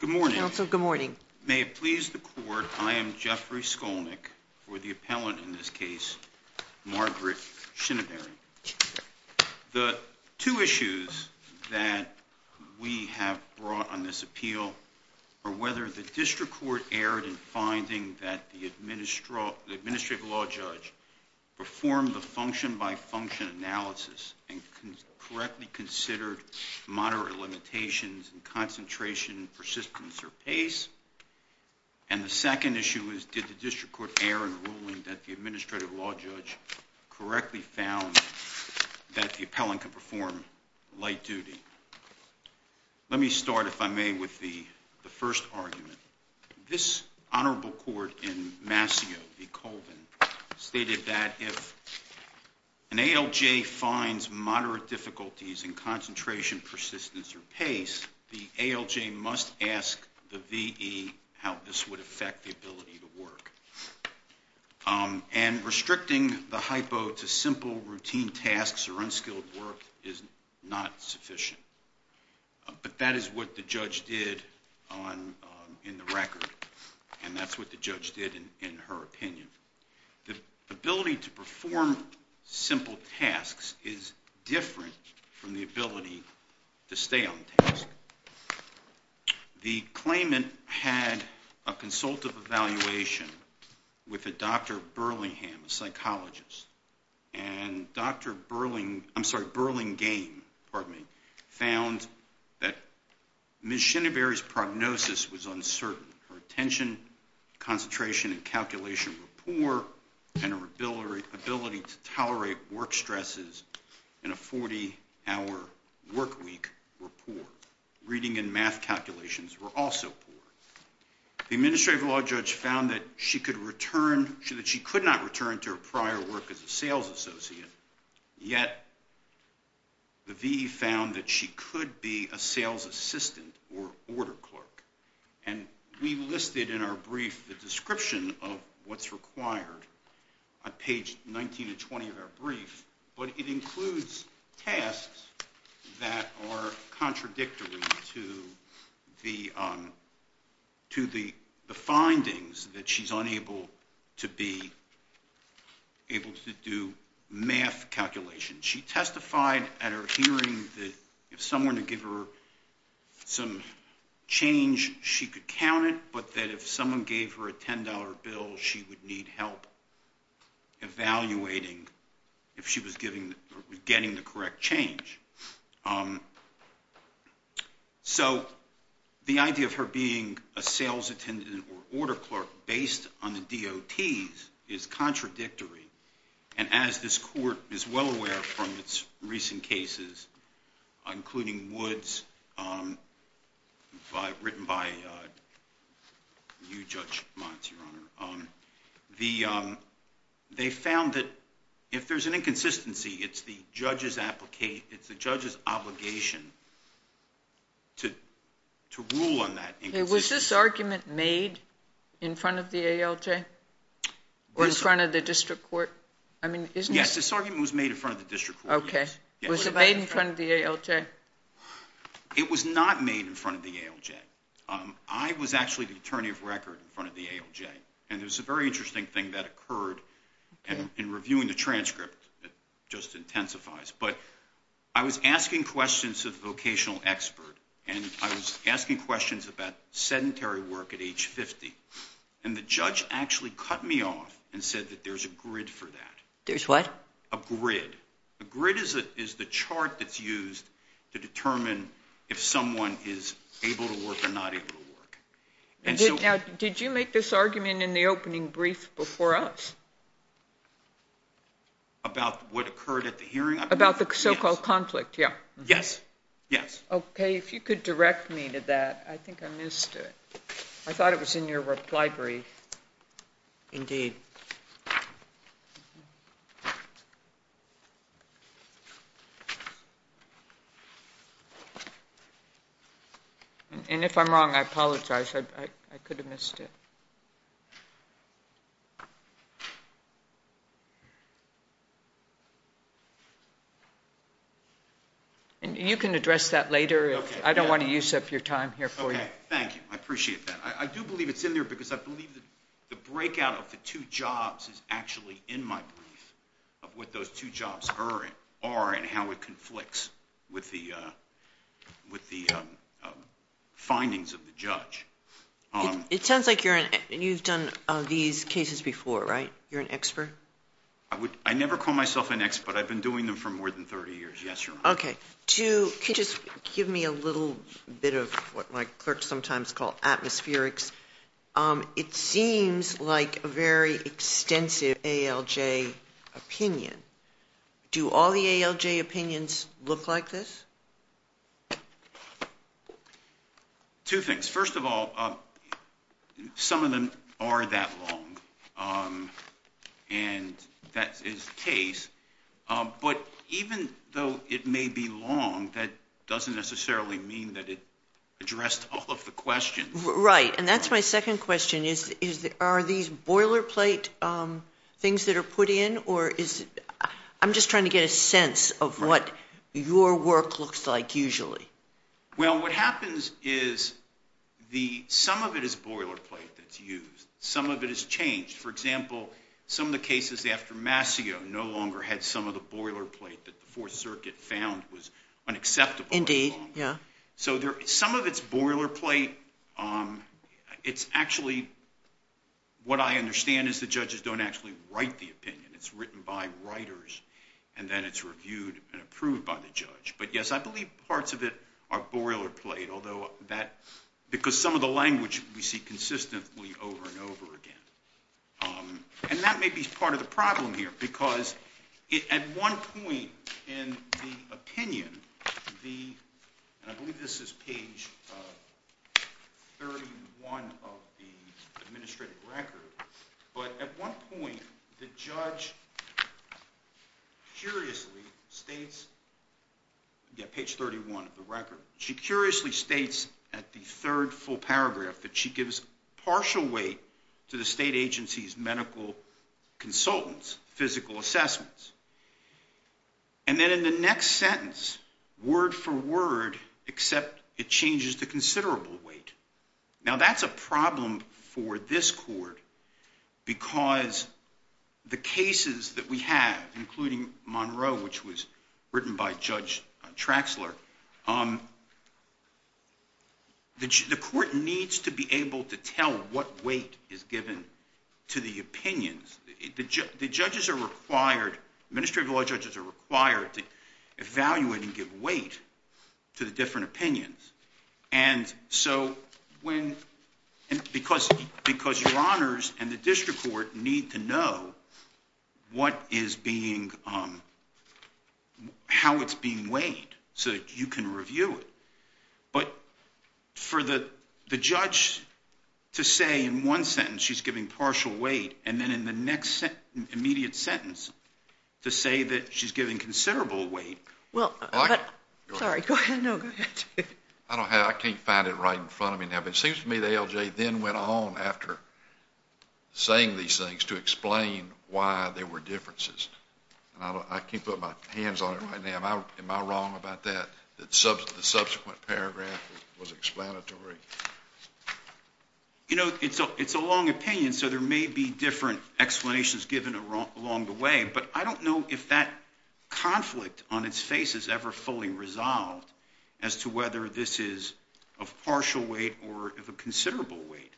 Good morning. May it please the court, I am Jeffrey Skolnick for the appellant in this case, Margaret Shinaberry. The two issues that we have brought on this appeal are whether the district court erred in finding that the administrative law judge performed the function-by-function analysis and correctly considered moderate limitations in concentration, persistence, or pace. And the second issue is did the district court err in ruling that the administrative law judge correctly found that the appellant could perform light duty. Let me start, if I may, with the first argument. This honorable court in Masseau v. Colvin stated that if an ALJ finds moderate difficulties in concentration, persistence, or pace, the ALJ must ask the VE how this would affect the ability to work. And restricting the hypo to simple routine tasks or unskilled work is not sufficient. But that is what the judge did in the record, and that's what the judge did in her opinion. The ability to perform simple tasks is different from the ability to stay on task. The claimant had a consultative evaluation with a Dr. Burlingame, a psychologist. And Dr. Burlingame found that Ms. Shinaberry's prognosis was uncertain. Her attention, concentration, and calculation were poor, and her ability to tolerate work stresses in a 40-hour work week were poor. Reading and math calculations were also poor. The administrative law judge found that she could not return to her prior work as a sales associate, yet the VE found that she could be a sales assistant or order clerk. And we listed in our brief the description of what's required on page 19 and 20 of our brief, but it includes tasks that are contradictory to the findings that she's unable to be able to do math calculations. She testified at her hearing that if someone were to give her some change, she could count it, but that if someone gave her a $10 bill, she would need help evaluating if she was getting the correct change. So the idea of her being a sales attendant or order clerk based on the DOTs is contradictory. And as this court is well aware from its recent cases, including Woods, written by you, Judge Mons, Your Honor, they found that if there's an inconsistency, it's the judge's obligation to rule on that inconsistency. Was this argument made in front of the ALJ or in front of the district court? Yes, this argument was made in front of the district court. Was it made in front of the ALJ? It was not made in front of the ALJ. I was actually the attorney of record in front of the ALJ, and there's a very interesting thing that occurred in reviewing the transcript that just intensifies. But I was asking questions to the vocational expert, and I was asking questions about sedentary work at age 50, and the judge actually cut me off and said that there's a grid for that. There's what? A grid. A grid is the chart that's used to determine if someone is able to work or not able to work. Now, did you make this argument in the opening brief before us? About what occurred at the hearing? About the so-called conflict, yeah. Yes. Yes. Okay. If you could direct me to that. I think I missed it. I thought it was in your reply brief. Indeed. And if I'm wrong, I apologize. I could have missed it. You can address that later. I don't want to use up your time here for you. Okay. Thank you. I appreciate that. I do believe it's in there because I believe the breakout of the two jobs is actually in my brief of what those two jobs are and how it conflicts with the findings of the judge. It sounds like you've done these cases before, right? You're an expert? I never call myself an expert. I've been doing them for more than 30 years. Yes, Your Honor. Okay. Could you just give me a little bit of what my clerks sometimes call atmospherics? It seems like a very extensive ALJ opinion. Do all the ALJ opinions look like this? Two things. First of all, some of them are that long, and that is the case. But even though it may be long, that doesn't necessarily mean that it addressed all of the questions. Right. And that's my second question. Are these boilerplate things that are put in? I'm just trying to get a sense of what your work looks like usually. Well, what happens is some of it is boilerplate that's used. Some of it has changed. For example, some of the cases after Mascio no longer had some of the boilerplate that the Fourth Circuit found was unacceptable. Indeed. Yeah. So some of it's boilerplate. It's actually what I understand is the judges don't actually write the opinion. It's written by writers, and then it's reviewed and approved by the judge. But, yes, I believe parts of it are boilerplate, because some of the language we see consistently over and over again. And that may be part of the problem here, because at one point in the opinion, and I believe this is page 31 of the administrative record, but at one point the judge curiously states at page 31 of the record, she curiously states at the third full paragraph that she gives partial weight to the state agency's medical consultants' physical assessments. And then in the next sentence, word for word, except it changes to considerable weight. Now, that's a problem for this court, because the cases that we have, including Monroe, which was written by Judge Traxler, the court needs to be able to tell what weight is given to the opinions. The judges are required, administrative law judges are required to evaluate and give weight to the different opinions. And so when, and because your honors and the district court need to know what is being, how it's being weighed so that you can review it. But for the judge to say in one sentence she's giving partial weight, and then in the next immediate sentence to say that she's giving considerable weight. Well, sorry, go ahead. I can't find it right in front of me now, but it seems to me that LJ then went on after saying these things to explain why there were differences. I can't put my hands on it right now. Am I wrong about that, that the subsequent paragraph was explanatory? You know, it's a long opinion, so there may be different explanations given along the way, but I don't know if that conflict on its face is ever fully resolved as to whether this is of partial weight or of a considerable weight.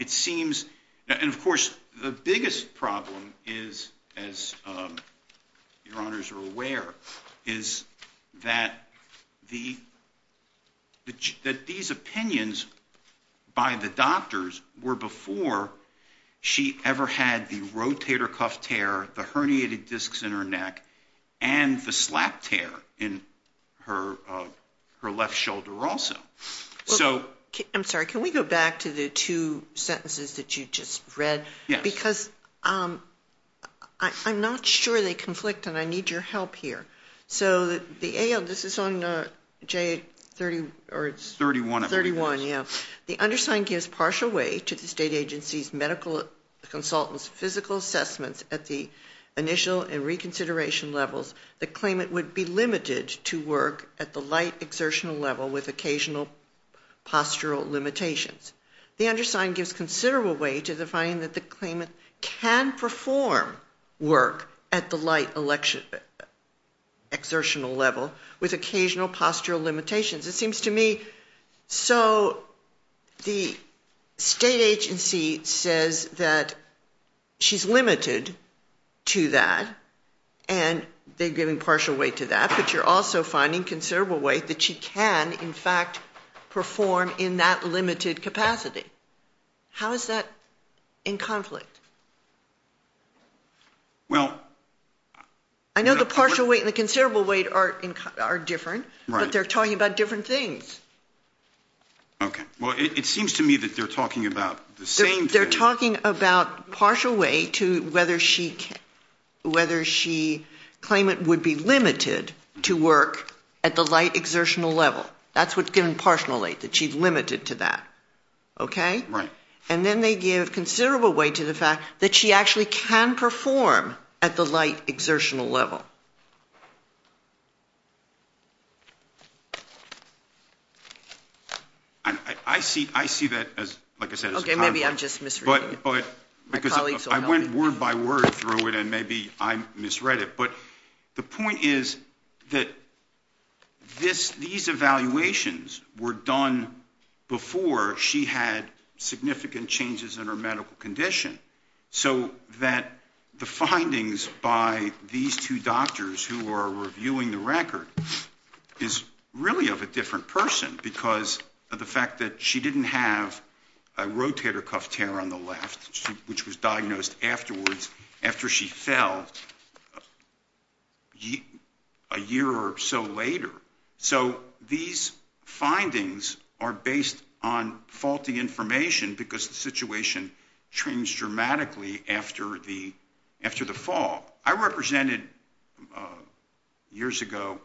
It seems, and of course, the biggest problem is, as your honors are aware, is that these opinions by the doctors were before she ever had the rotator cuff tear, the herniated discs in her neck, and the slap tear in her left shoulder also. I'm sorry, can we go back to the two sentences that you just read? Yes. Because I'm not sure they conflict, and I need your help here. So the AL, this is on J31, yeah. The undersigned gives partial weight to the state agency's medical consultants' physical assessments at the initial and reconsideration levels that claim it would be limited to work at the light exertional level with occasional postural limitations. The undersigned gives considerable weight to the finding that the claimant can perform work at the light exertional level with occasional postural limitations. It seems to me, so the state agency says that she's limited to that, and they're giving partial weight to that, but you're also finding considerable weight that she can, in fact, perform in that limited capacity. How is that in conflict? Well... I know the partial weight and the considerable weight are different, but they're talking about different things. Okay. Well, it seems to me that they're talking about the same thing. They're talking about partial weight to whether she claimant would be limited to work at the light exertional level. That's what's given partial weight, that she's limited to that. Okay? Right. And then they give considerable weight to the fact that she actually can perform at the light exertional level. Okay. I see that as, like I said, as a conflict. Okay. Maybe I'm just misreading it. But because I went word by word through it, and maybe I misread it, but the point is that these evaluations were done before she had significant changes in her medical condition so that the findings by these two doctors who are reviewing the record is really of a different person because of the fact that she didn't have a rotator cuff tear on the left, which was diagnosed afterwards after she fell a year or so later. So these findings are based on faulty information because the situation changed dramatically after the fall. I represented years ago,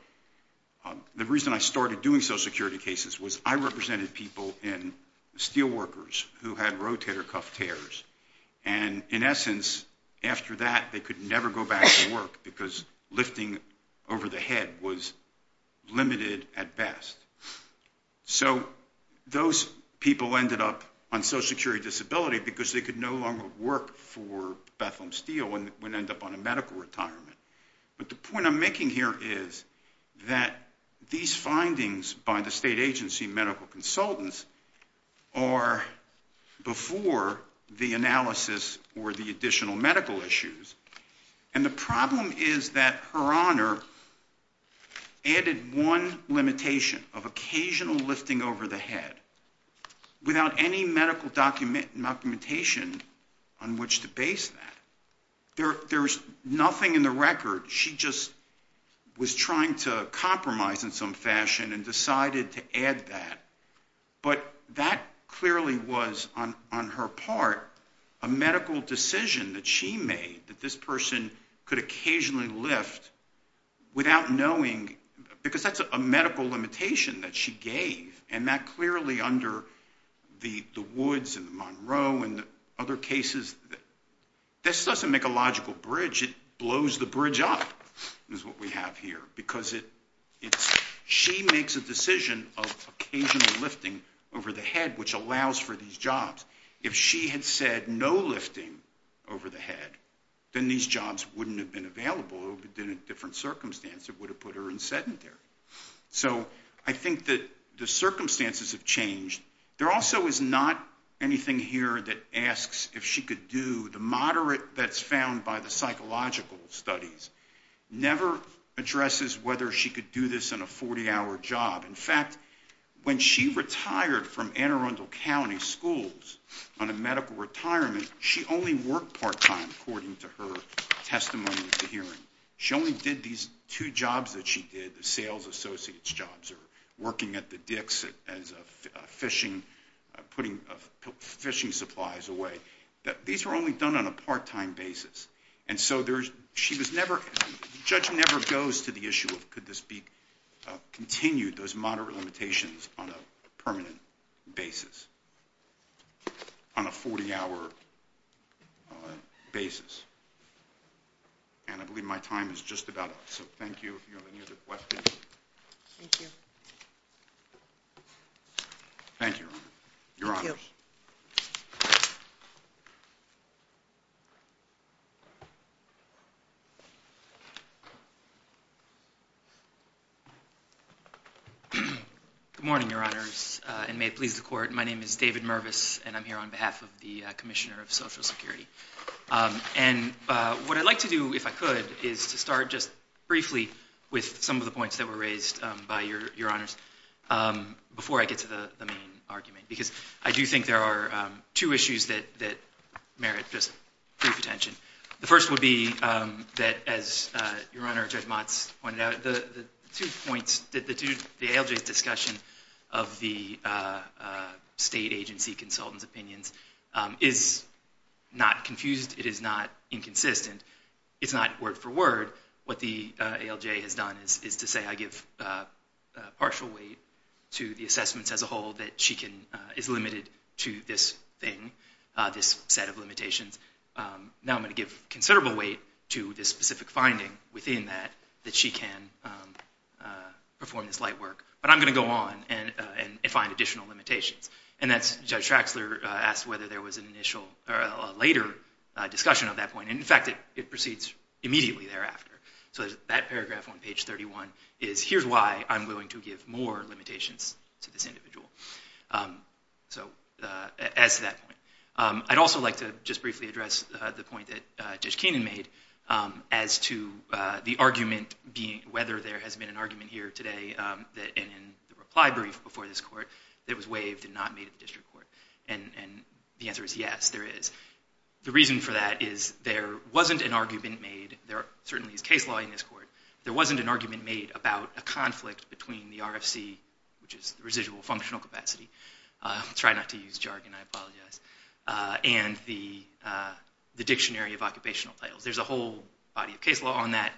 the reason I started doing Social Security cases was I represented people in steel workers who had rotator cuff tears. And in essence, after that, they could never go back to work because lifting over the head was limited at best. So those people ended up on Social Security disability because they could no longer work for Bethlehem Steel and would end up on a medical retirement. But the point I'm making here is that these findings by the state agency medical consultants are before the analysis or the additional medical issues. And the problem is that Her Honor added one limitation of occasional lifting over the head without any medical documentation on which to base that. There's nothing in the record. She just was trying to compromise in some fashion and decided to add that. But that clearly was on her part a medical decision that she made that this person could occasionally lift without knowing because that's a medical limitation that she gave. And that clearly under the Woods and the Monroe and other cases, this doesn't make a logical bridge. It blows the bridge up is what we have here because she makes a decision of occasional lifting over the head which allows for these jobs. If she had said no lifting over the head, then these jobs wouldn't have been available. It would have been a different circumstance. It would have put her in sedentary. So I think that the circumstances have changed. There also is not anything here that asks if she could do the moderate that's found by the psychological studies. Never addresses whether she could do this in a 40-hour job. In fact, when she retired from Anne Arundel County Schools on a medical retirement, she only worked part-time according to her testimony at the hearing. She only did these two jobs that she did, the sales associate's jobs, or working at the Dick's as a fishing, putting fishing supplies away. These were only done on a part-time basis. And so she was never, the judge never goes to the issue of could this be continued, those moderate limitations on a permanent basis, on a 40-hour basis. And I believe my time is just about up, so thank you if you have any other questions. Thank you. Thank you, Your Honor. Thank you. Good morning, Your Honors, and may it please the Court. My name is David Mervis, and I'm here on behalf of the Commissioner of Social Security. And what I'd like to do, if I could, is to start just briefly with some of the points that were raised by Your Honors before I get to the main argument, because I do think there are two issues that merit just brief attention. The first would be that, as Your Honor, Judge Motz pointed out, the two points, the ALJ's discussion of the state agency consultant's opinions is not confused. It is not inconsistent. It's not word for word. What the ALJ has done is to say I give partial weight to the assessments as a whole that she can, is limited to this thing, this set of limitations. Now I'm going to give considerable weight to this specific finding within that, that she can perform this light work. But I'm going to go on and find additional limitations. And that's, Judge Traxler asked whether there was an initial or a later discussion of that point. And, in fact, it proceeds immediately thereafter. So that paragraph on page 31 is, here's why I'm willing to give more limitations to this individual. So, as to that point. I'd also like to just briefly address the point that Judge Keenan made as to the argument being, whether there has been an argument here today that, in the reply brief before this court, that it was waived and not made at the district court. And the answer is yes, there is. The reason for that is there wasn't an argument made, there certainly is case law in this court, there wasn't an argument made about a conflict between the RFC, which is the residual functional capacity. I'll try not to use jargon, I apologize. And the dictionary of occupational titles. There's a whole body of case law on that.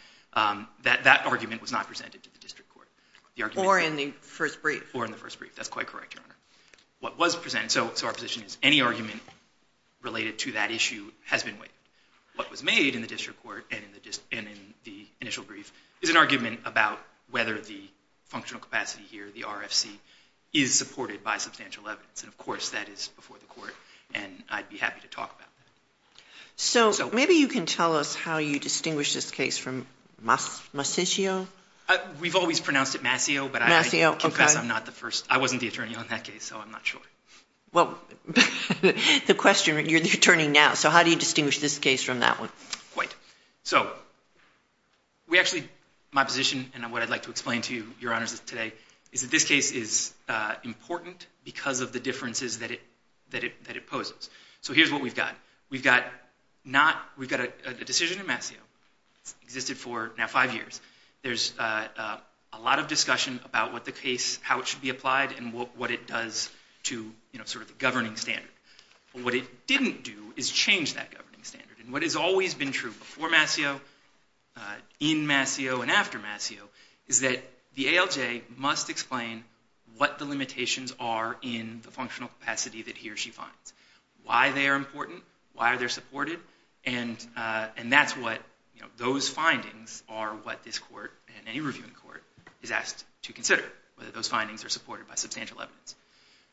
That argument was not presented to the district court. Or in the first brief. Or in the first brief, that's quite correct, Your Honor. What was presented, so our position is any argument related to that issue has been waived. What was made in the district court and in the initial brief is an argument about whether the functional capacity here, the RFC, is supported by substantial evidence. And, of course, that is before the court, and I'd be happy to talk about that. So maybe you can tell us how you distinguish this case from Masiccio? We've always pronounced it Mascio, but I confess I'm not the first. I wasn't the attorney on that case, so I'm not sure. Well, the question, you're the attorney now, so how do you distinguish this case from that one? So my position, and what I'd like to explain to you, Your Honors, today, is that this case is important because of the differences that it poses. So here's what we've got. We've got a decision in Mascio. It's existed for now five years. There's a lot of discussion about how it should be applied and what it does to the governing standard. What it didn't do is change that governing standard. And what has always been true before Mascio, in Mascio, and after Mascio, is that the ALJ must explain what the limitations are in the functional capacity that he or she finds, why they are important, why they're supported, and that's what those findings are what this court, and any review in court, is asked to consider, whether those findings are supported by substantial evidence.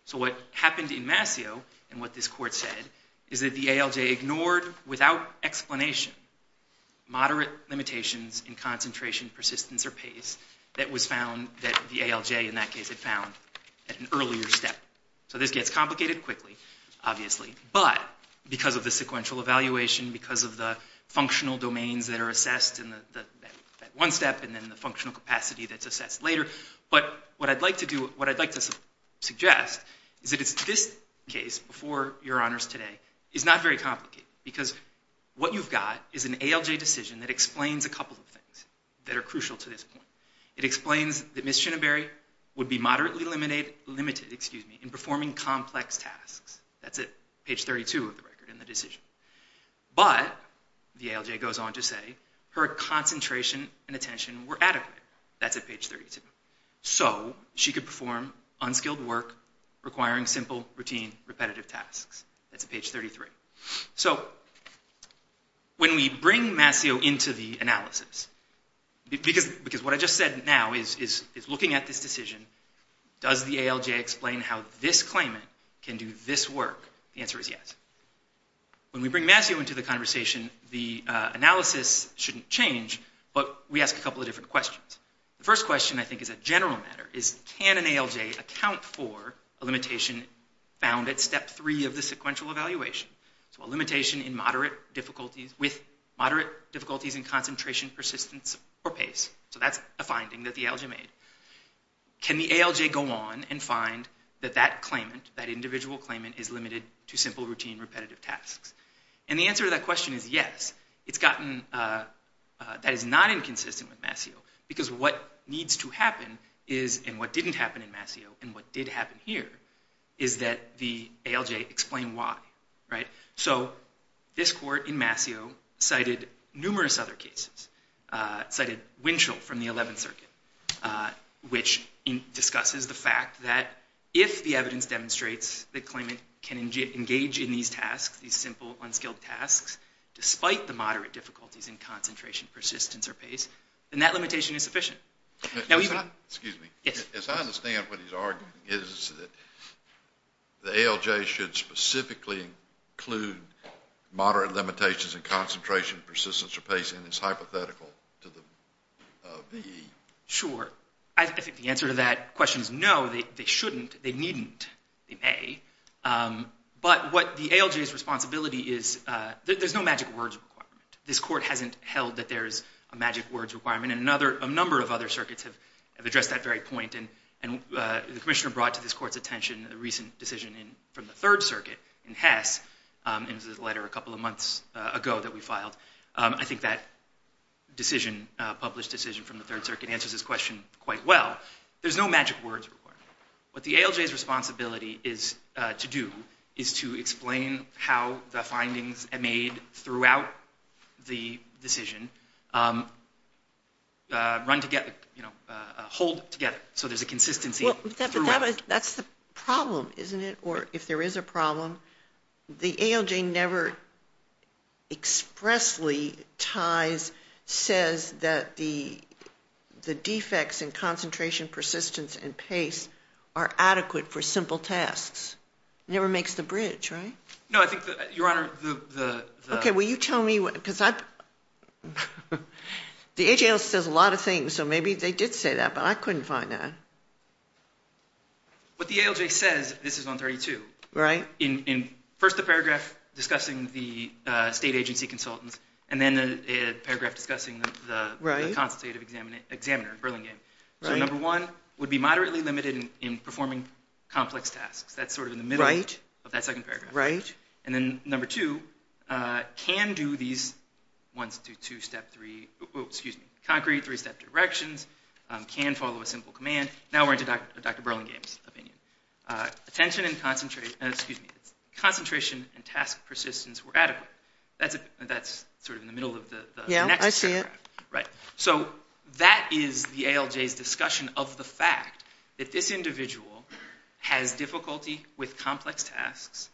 So what happened in Mascio, and what this court said, is that the ALJ ignored, without explanation, moderate limitations in concentration, persistence, or pace that was found, that the ALJ, in that case, had found at an earlier step. So this gets complicated quickly, obviously, but because of the sequential evaluation, because of the functional domains that are assessed at one step, and then the functional capacity that's assessed later. But what I'd like to do, what I'd like to suggest, is that this case, before Your Honors today, is not very complicated, because what you've got is an ALJ decision that explains a couple of things that are crucial to this point. It explains that Ms. Chinaberry would be moderately limited in performing complex tasks. That's at page 32 of the record in the decision. But, the ALJ goes on to say, her concentration and attention were adequate. That's at page 32. So, she could perform unskilled work requiring simple, routine, repetitive tasks. That's at page 33. So, when we bring Mascio into the analysis, because what I just said now is looking at this decision, does the ALJ explain how this claimant can do this work? The answer is yes. When we bring Mascio into the conversation, the analysis shouldn't change, but we ask a couple of different questions. The first question, I think, is a general matter, is can an ALJ account for a limitation found at step 3 of the sequential evaluation? So, a limitation with moderate difficulties in concentration, persistence, or pace. So, that's a finding that the ALJ made. Can the ALJ go on and find that that claimant, that individual claimant, is limited to simple, routine, repetitive tasks? And the answer to that question is yes. It's gotten, that is not inconsistent with Mascio, because what needs to happen is, and what didn't happen in Mascio, and what did happen here, is that the ALJ explained why. So, this court in Mascio cited numerous other cases. It cited Winchell from the 11th Circuit, which discusses the fact that if the evidence demonstrates that claimant can engage in these tasks, these simple, unskilled tasks, despite the moderate difficulties in concentration, persistence, or pace, then that limitation is sufficient. Excuse me. Yes. As I understand what he's arguing, is that the ALJ should specifically include moderate limitations in concentration, persistence, or pace, and it's hypothetical to the VE? Sure. I think the answer to that question is no, they shouldn't, they needn't, they may. But what the ALJ's responsibility is, there's no magic words requirement. This court hasn't held that there's a magic words requirement, and a number of other circuits have addressed that very point, and the commissioner brought to this court's attention a recent decision from the 3rd Circuit, in Hess, in his letter a couple of months ago that we filed. I think that decision, published decision from the 3rd Circuit, answers this question quite well. There's no magic words requirement. What the ALJ's responsibility is to do, is to explain how the findings made throughout the decision run together, you know, hold together, so there's a consistency throughout. That's the problem, isn't it? Or if there is a problem, the ALJ never expressly ties, never says that the defects in concentration, persistence, and pace are adequate for simple tasks. It never makes the bridge, right? No, I think that, Your Honor, the... Okay, well you tell me, because I... The ALJ says a lot of things, so maybe they did say that, but I couldn't find that. What the ALJ says, this is on 32. Right. In first the paragraph discussing the state agency consultants, and then a paragraph discussing the concentrative examiner, Burlingame. So number one, would be moderately limited in performing complex tasks. That's sort of in the middle of that second paragraph. Right. And then number two, can do these ones to step three, excuse me, concrete three-step directions, can follow a simple command. Now we're into Dr. Burlingame's opinion. Attention and concentration, excuse me, concentration and task persistence were adequate. That's sort of in the middle of the next paragraph. Yeah, I see it. Right. So that is the ALJ's discussion of the fact that this individual has difficulty with complex tasks,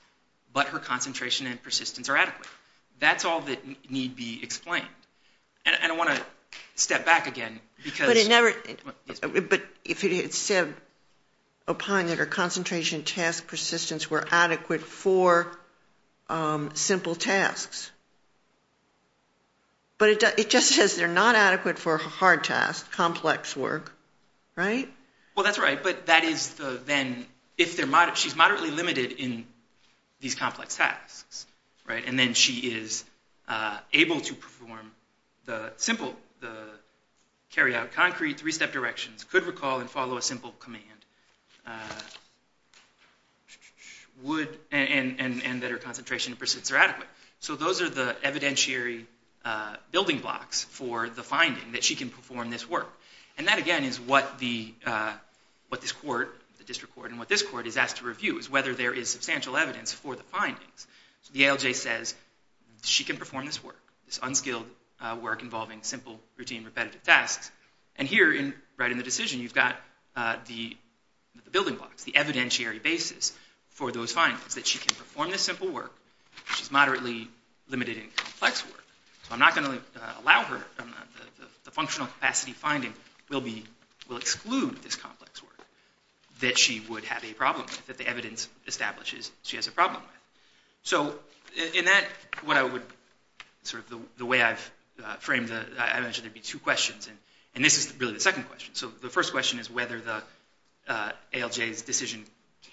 but her concentration and persistence are adequate. That's all that need be explained. And I want to step back again, because... But if it said upon that her concentration and task persistence were adequate for simple tasks. But it just says they're not adequate for hard tasks, complex work. Right? Well, that's right. But that is the then, if they're, she's moderately limited in these complex tasks. Right. And then she is able to perform the simple, the carry out concrete three-step directions, could recall and follow a simple command, and that her concentration and persistence are adequate. So those are the evidentiary building blocks for the finding that she can perform this work. And that, again, is what this court, the district court, and what this court is asked to review, So the ALJ says she can perform this work, this unskilled work involving simple, routine, repetitive tasks. And here, right in the decision, you've got the building blocks, the evidentiary basis for those findings, that she can perform this simple work, but she's moderately limited in complex work. So I'm not going to allow her, the functional capacity finding will exclude this complex work that she would have a problem with, that the evidence establishes she has a problem with. So in that, what I would, sort of the way I've framed the, I mentioned there'd be two questions, and this is really the second question. So the first question is whether the ALJ's decision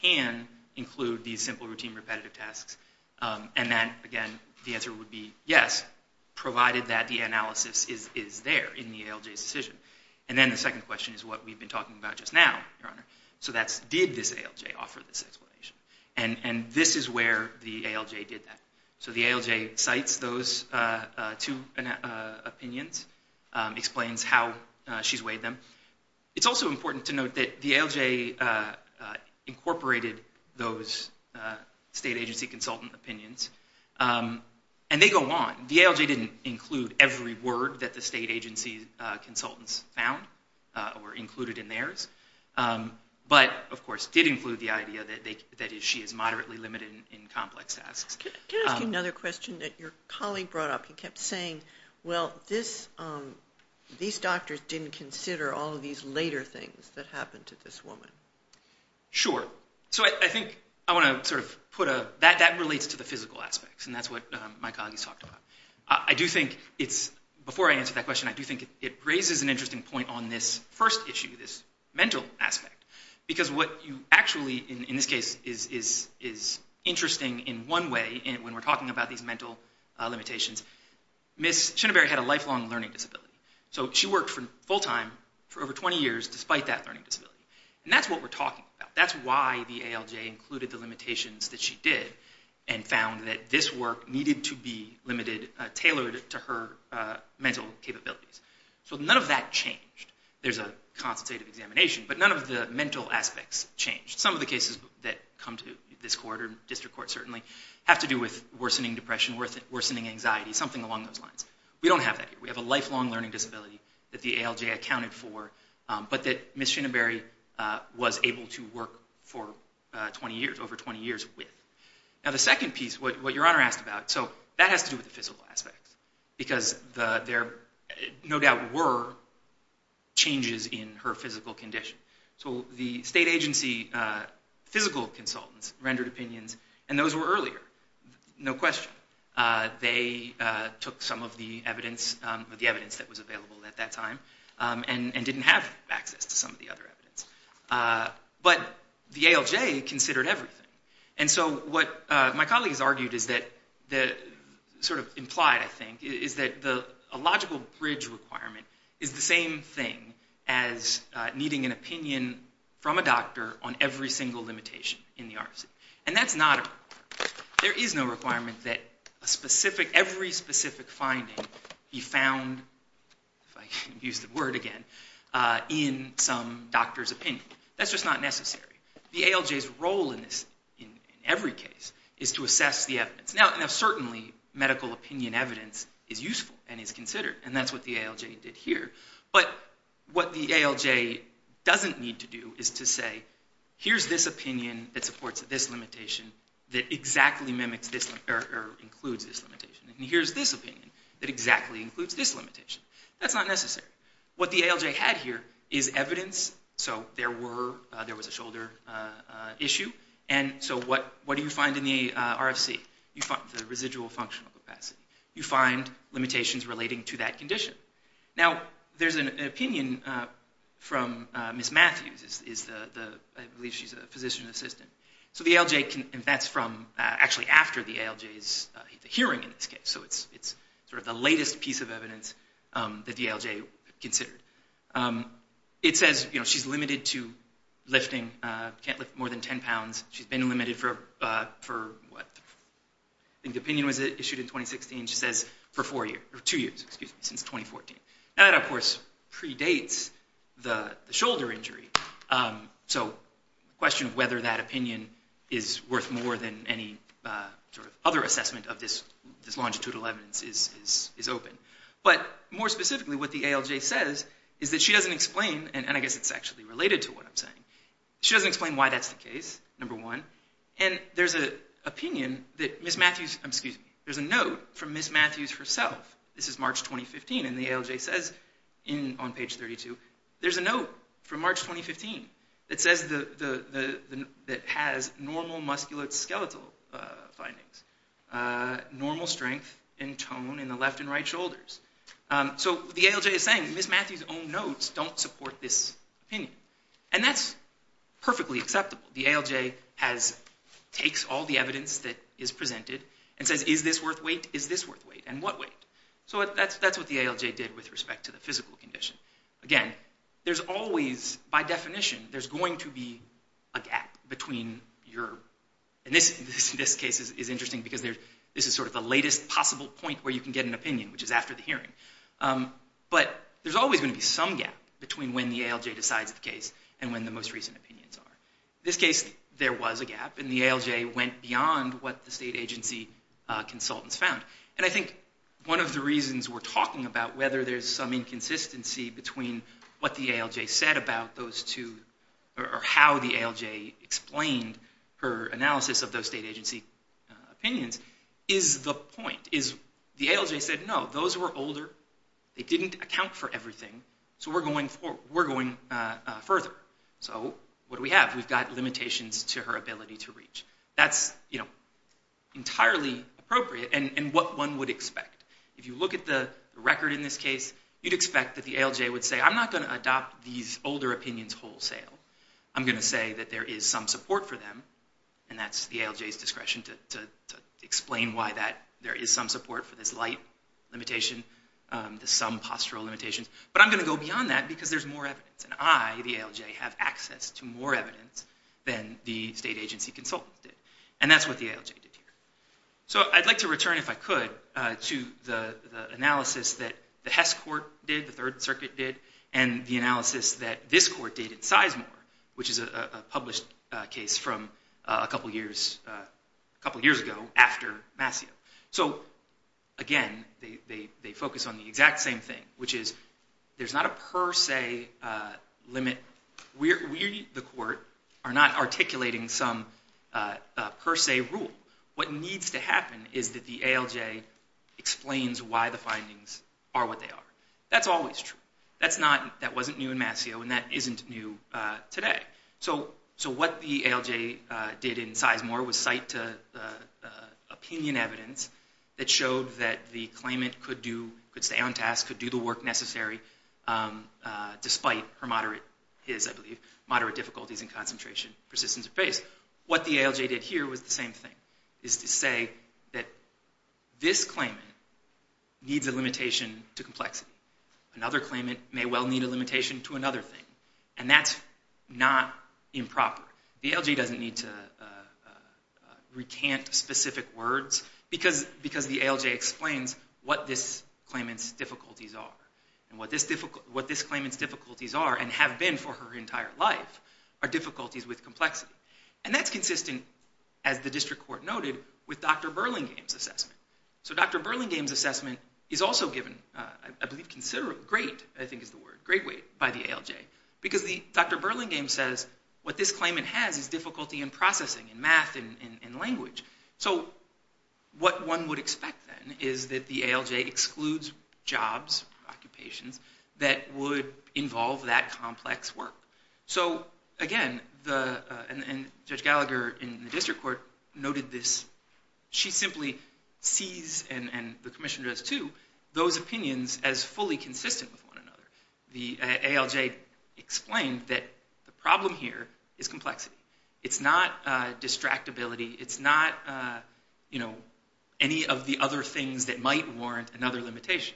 can include these simple, routine, repetitive tasks. And then, again, the answer would be yes, provided that the analysis is there in the ALJ's decision. And then the second question is what we've been talking about just now, Your Honor. So that's, did this ALJ offer this explanation? And this is where the ALJ did that. So the ALJ cites those two opinions, explains how she's weighed them. It's also important to note that the ALJ incorporated those state agency consultant opinions, and they go on. The ALJ didn't include every word that the state agency consultants found or included in theirs, but, of course, did include the idea that she is moderately limited in complex tasks. Can I ask you another question that your colleague brought up? He kept saying, well, these doctors didn't consider all of these later things that happened to this woman. Sure. So I think I want to sort of put a, that relates to the physical aspects, and that's what my colleague's talked about. I do think it's, before I answer that question, I do think it raises an interesting point on this first issue, this mental aspect. Because what you actually, in this case, is interesting in one way, when we're talking about these mental limitations, Ms. Shinneberry had a lifelong learning disability. So she worked full-time for over 20 years despite that learning disability. And that's what we're talking about. That's why the ALJ included the limitations that she did and found that this work needed to be limited, tailored to her mental capabilities. So none of that changed. There's a consultative examination, but none of the mental aspects changed. Some of the cases that come to this court, or district court certainly, have to do with worsening depression, worsening anxiety, something along those lines. We don't have that here. We have a lifelong learning disability that the ALJ accounted for, but that Ms. Shinneberry was able to work for 20 years, over 20 years with. Now the second piece, what Your Honor asked about, so that has to do with the physical aspects. Because there no doubt were changes in her physical condition. So the state agency physical consultants rendered opinions, and those were earlier, no question. They took some of the evidence, the evidence that was available at that time, and didn't have access to some of the other evidence. But the ALJ considered everything. And so what my colleagues argued is that, sort of implied I think, is that a logical bridge requirement is the same thing as needing an opinion from a doctor on every single limitation in the RFC. And that's not a requirement. There is no requirement that a specific, every specific finding be found, if I can use the word again, in some doctor's opinion. That's just not necessary. The ALJ's role in this, in every case, is to assess the evidence. Now certainly medical opinion evidence is useful and is considered, and that's what the ALJ did here. But what the ALJ doesn't need to do is to say, here's this opinion that supports this limitation that exactly mimics this, or includes this limitation. And here's this opinion that exactly includes this limitation. That's not necessary. What the ALJ had here is evidence, so there were, there was a shoulder issue. And so what do you find in the RFC? You find the residual functional capacity. You find limitations relating to that condition. Now there's an opinion from Ms. Matthews is the, I believe she's a physician assistant. So the ALJ can, and that's from actually after the ALJ's hearing in this case. So it's sort of the latest piece of evidence that the ALJ considered. It says, you know, she's limited to lifting, can't lift more than 10 pounds. She's been limited for, for what, I think the opinion was issued in 2016. She says for four years, or two years, excuse me, since 2014. Now that, of course, predates the shoulder injury. So the question of whether that opinion is worth more than any sort of other assessment of this longitudinal evidence is open. But more specifically, what the ALJ says is that she doesn't explain, and I guess it's actually related to what I'm saying. She doesn't explain why that's the case, number one. And there's an opinion that Ms. Matthews, excuse me, there's a note from Ms. Matthews herself. This is March 2015, and the ALJ says on page 32, there's a note from March 2015 that says the, that has normal musculate skeletal findings. Normal strength and tone in the left and right shoulders. So the ALJ is saying Ms. Matthews' own notes don't support this opinion. And that's perfectly acceptable. The ALJ has, takes all the evidence that is presented and says is this worth weight, is this worth weight, and what weight. So that's, that's what the ALJ did with respect to the physical condition. Again, there's always, by definition, there's going to be a gap between your, and this, this case is interesting because there's, this is sort of the latest possible point where you can get an opinion, which is after the hearing. But there's always going to be some gap between when the ALJ decides the case and when the most recent opinions are. This case, there was a gap, and the ALJ went beyond what the state agency consultants found. And I think one of the reasons we're talking about whether there's some inconsistency between what the ALJ said about those two, or how the ALJ explained her analysis of those state agency opinions, is the point. Is the ALJ said, no, those were older. They didn't account for everything. So we're going, we're going further. So what do we have? We've got limitations to her ability to reach. That's, you know, entirely appropriate, and what one would expect. If you look at the record in this case, you'd expect that the ALJ would say I'm not going to adopt these older opinions wholesale. I'm going to say that there is some support for them. And that's the ALJ's discretion to explain why that there is some support for this light limitation, the some postural limitations. But I'm going to go beyond that because there's more evidence. And I, the ALJ, have access to more evidence than the state agency consultants did. And that's what the ALJ did here. So I'd like to return, if I could, to the analysis that the Hess court did, the Third Circuit did, and the analysis that this court did at Sizemore, which is a published case from a couple years, a couple years ago after Mascio. So, again, they focus on the exact same thing, which is there's not a per se limit. We, the court, are not articulating some per se rule. What needs to happen is that the ALJ explains why the findings are what they are. That's always true. That's not, that wasn't new in Mascio, and that isn't new today. So what the ALJ did in Sizemore was cite opinion evidence that showed that the claimant could do, could stay on task, could do the work necessary, despite her moderate, his, I believe, moderate difficulties in concentration, persistence of pace. What the ALJ did here was the same thing, is to say that this claimant needs a limitation to complexity. Another claimant may well need a limitation to another thing, and that's not improper. The ALJ doesn't need to recant specific words, because the ALJ explains what this claimant's difficulties are. And what this claimant's difficulties are, and have been for her entire life, are difficulties with complexity. And that's consistent, as the district court noted, with Dr. Burlingame's assessment. So Dr. Burlingame's assessment is also given, I believe considerably, great, I think is the word, great weight, by the ALJ. Because Dr. Burlingame says what this claimant has is difficulty in processing, in math, in language. So what one would expect, then, is that the ALJ excludes jobs, occupations, that would involve that complex work. So again, and Judge Gallagher in the district court noted this, she simply sees, and the commissioner does too, those opinions as fully consistent with one another. The ALJ explained that the problem here is complexity. It's not distractibility. It's not, you know, any of the other things that might warrant another limitation.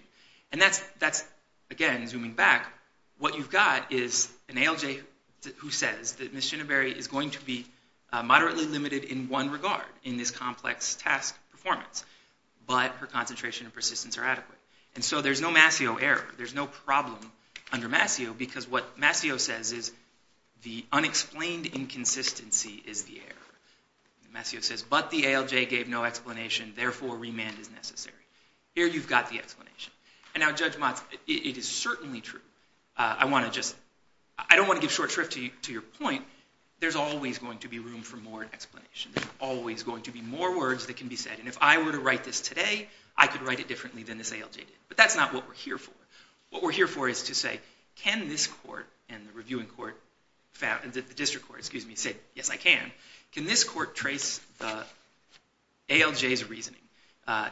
And that's, again, zooming back, what you've got is an ALJ who says that Ms. Chinaberry is going to be moderately limited in one regard, in this complex task performance, but her concentration and persistence are adequate. And so there's no Mascio error. There's no problem under Mascio, because what Mascio says is the unexplained inconsistency is the error. Mascio says, but the ALJ gave no explanation, therefore remand is necessary. Here you've got the explanation. And now, Judge Motz, it is certainly true. I want to just, I don't want to give short shrift to your point. There's always going to be room for more explanation. There's always going to be more words that can be said. And if I were to write this today, I could write it differently than this ALJ did. But that's not what we're here for. What we're here for is to say, can this court and the reviewing court, the district court, excuse me, say, yes, I can. Can this court trace the ALJ's reasoning?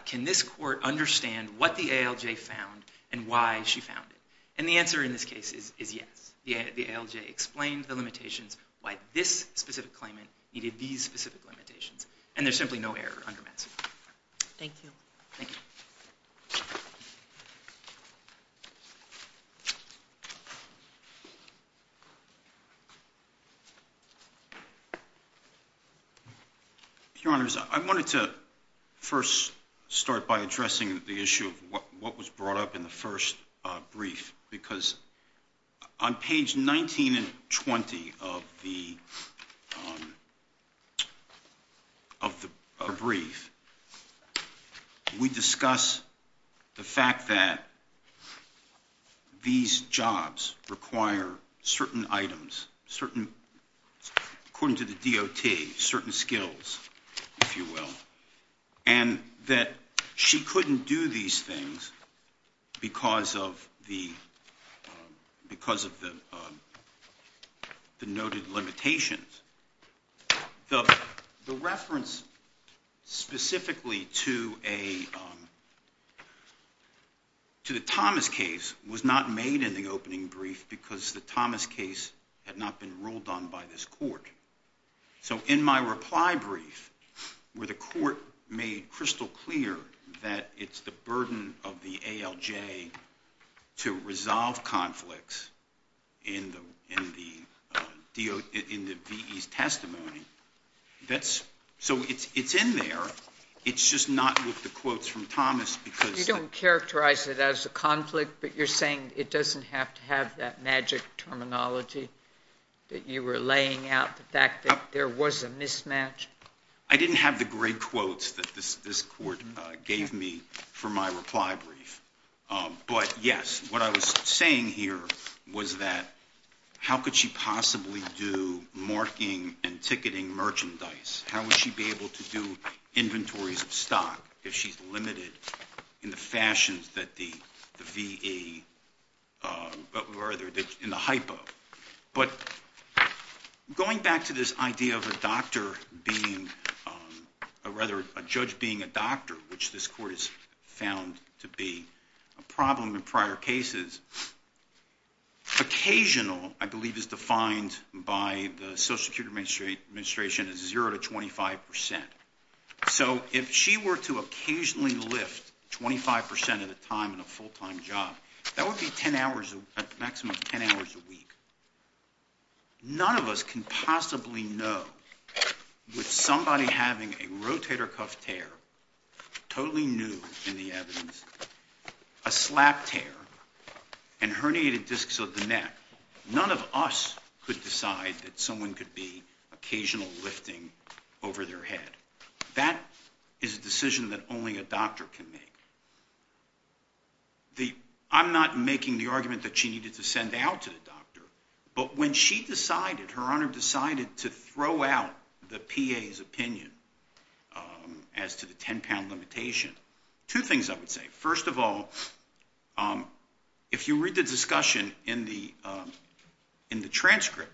Can this court understand what the ALJ found and why she found it? And the answer in this case is yes. The ALJ explained the limitations, why this specific claimant needed these specific limitations. And there's simply no error under Mascio. Thank you. Thank you. Your Honors, I wanted to first start by addressing the issue of what was brought up in the first brief. Because on page 19 and 20 of the brief, we discuss the fact that these jobs require certain items, certain, according to the DOT, certain skills, if you will. And that she couldn't do these things because of the noted limitations. The reference specifically to the Thomas case was not made in the opening brief because the Thomas case had not been ruled on by this court. So in my reply brief, where the court made crystal clear that it's the burden of the ALJ to resolve conflicts in the VE's testimony, that's, so it's in there. It's just not with the quotes from Thomas because- I wouldn't characterize it as a conflict, but you're saying it doesn't have to have that magic terminology that you were laying out, the fact that there was a mismatch? I didn't have the great quotes that this court gave me for my reply brief. But yes, what I was saying here was that how could she possibly do marking and ticketing merchandise? How would she be able to do inventories of stock if she's limited in the fashions that the VE, or rather in the hypo? But going back to this idea of a doctor being, or rather a judge being a doctor, which this court has found to be a problem in prior cases, occasional I believe is defined by the Social Security Administration as 0 to 25%. So if she were to occasionally lift 25% of the time in a full-time job, that would be 10 hours, a maximum of 10 hours a week. None of us can possibly know with somebody having a rotator cuff tear, totally new in the evidence, a slap tear, and herniated discs of the neck, none of us could decide that someone could be occasional lifting over their head. That is a decision that only a doctor can make. I'm not making the argument that she needed to send out to the doctor. But when she decided, her Honor decided to throw out the PA's opinion as to the 10-pound limitation, two things I would say. First of all, if you read the discussion in the transcript,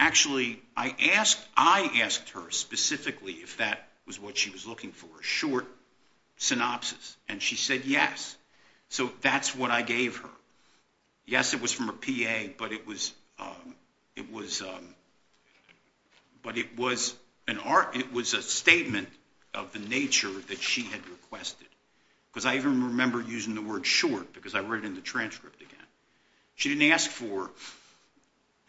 I asked her specifically if that was what she was looking for, a short synopsis. And she said yes. So that's what I gave her. Yes, it was from a PA, but it was a statement of the nature that she had requested. Because I even remember using the word short, because I wrote it in the transcript again. She didn't ask for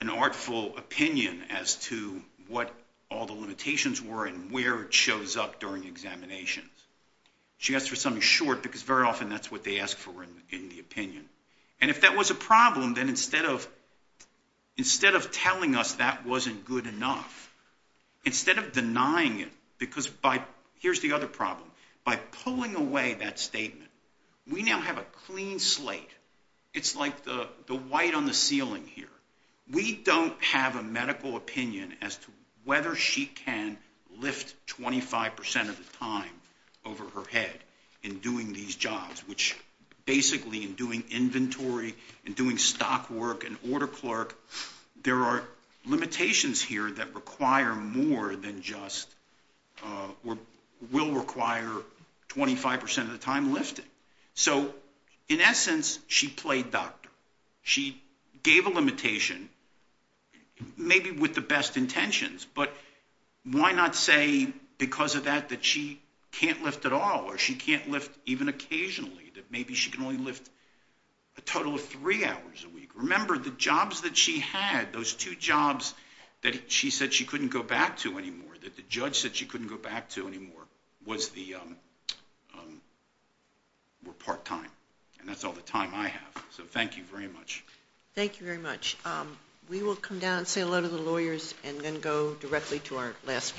an artful opinion as to what all the limitations were and where it shows up during examinations. She asked for something short, because very often that's what they ask for in the opinion. And if that was a problem, then instead of telling us that wasn't good enough, instead of denying it, because by... We now have a clean slate. It's like the white on the ceiling here. We don't have a medical opinion as to whether she can lift 25% of the time over her head in doing these jobs. Which basically in doing inventory, in doing stock work and order clerk, there are limitations here that require more than just... Will require 25% of the time lifting. So in essence, she played doctor. She gave a limitation, maybe with the best intentions. But why not say, because of that, that she can't lift at all, or she can't lift even occasionally? That maybe she can only lift a total of three hours a week. Remember, the jobs that she had, those two jobs that she said she couldn't go back to anymore, that the judge said she couldn't go back to anymore, were part-time. And that's all the time I have. So thank you very much. Thank you very much. We will come down and say hello to the lawyers and then go directly to our last case.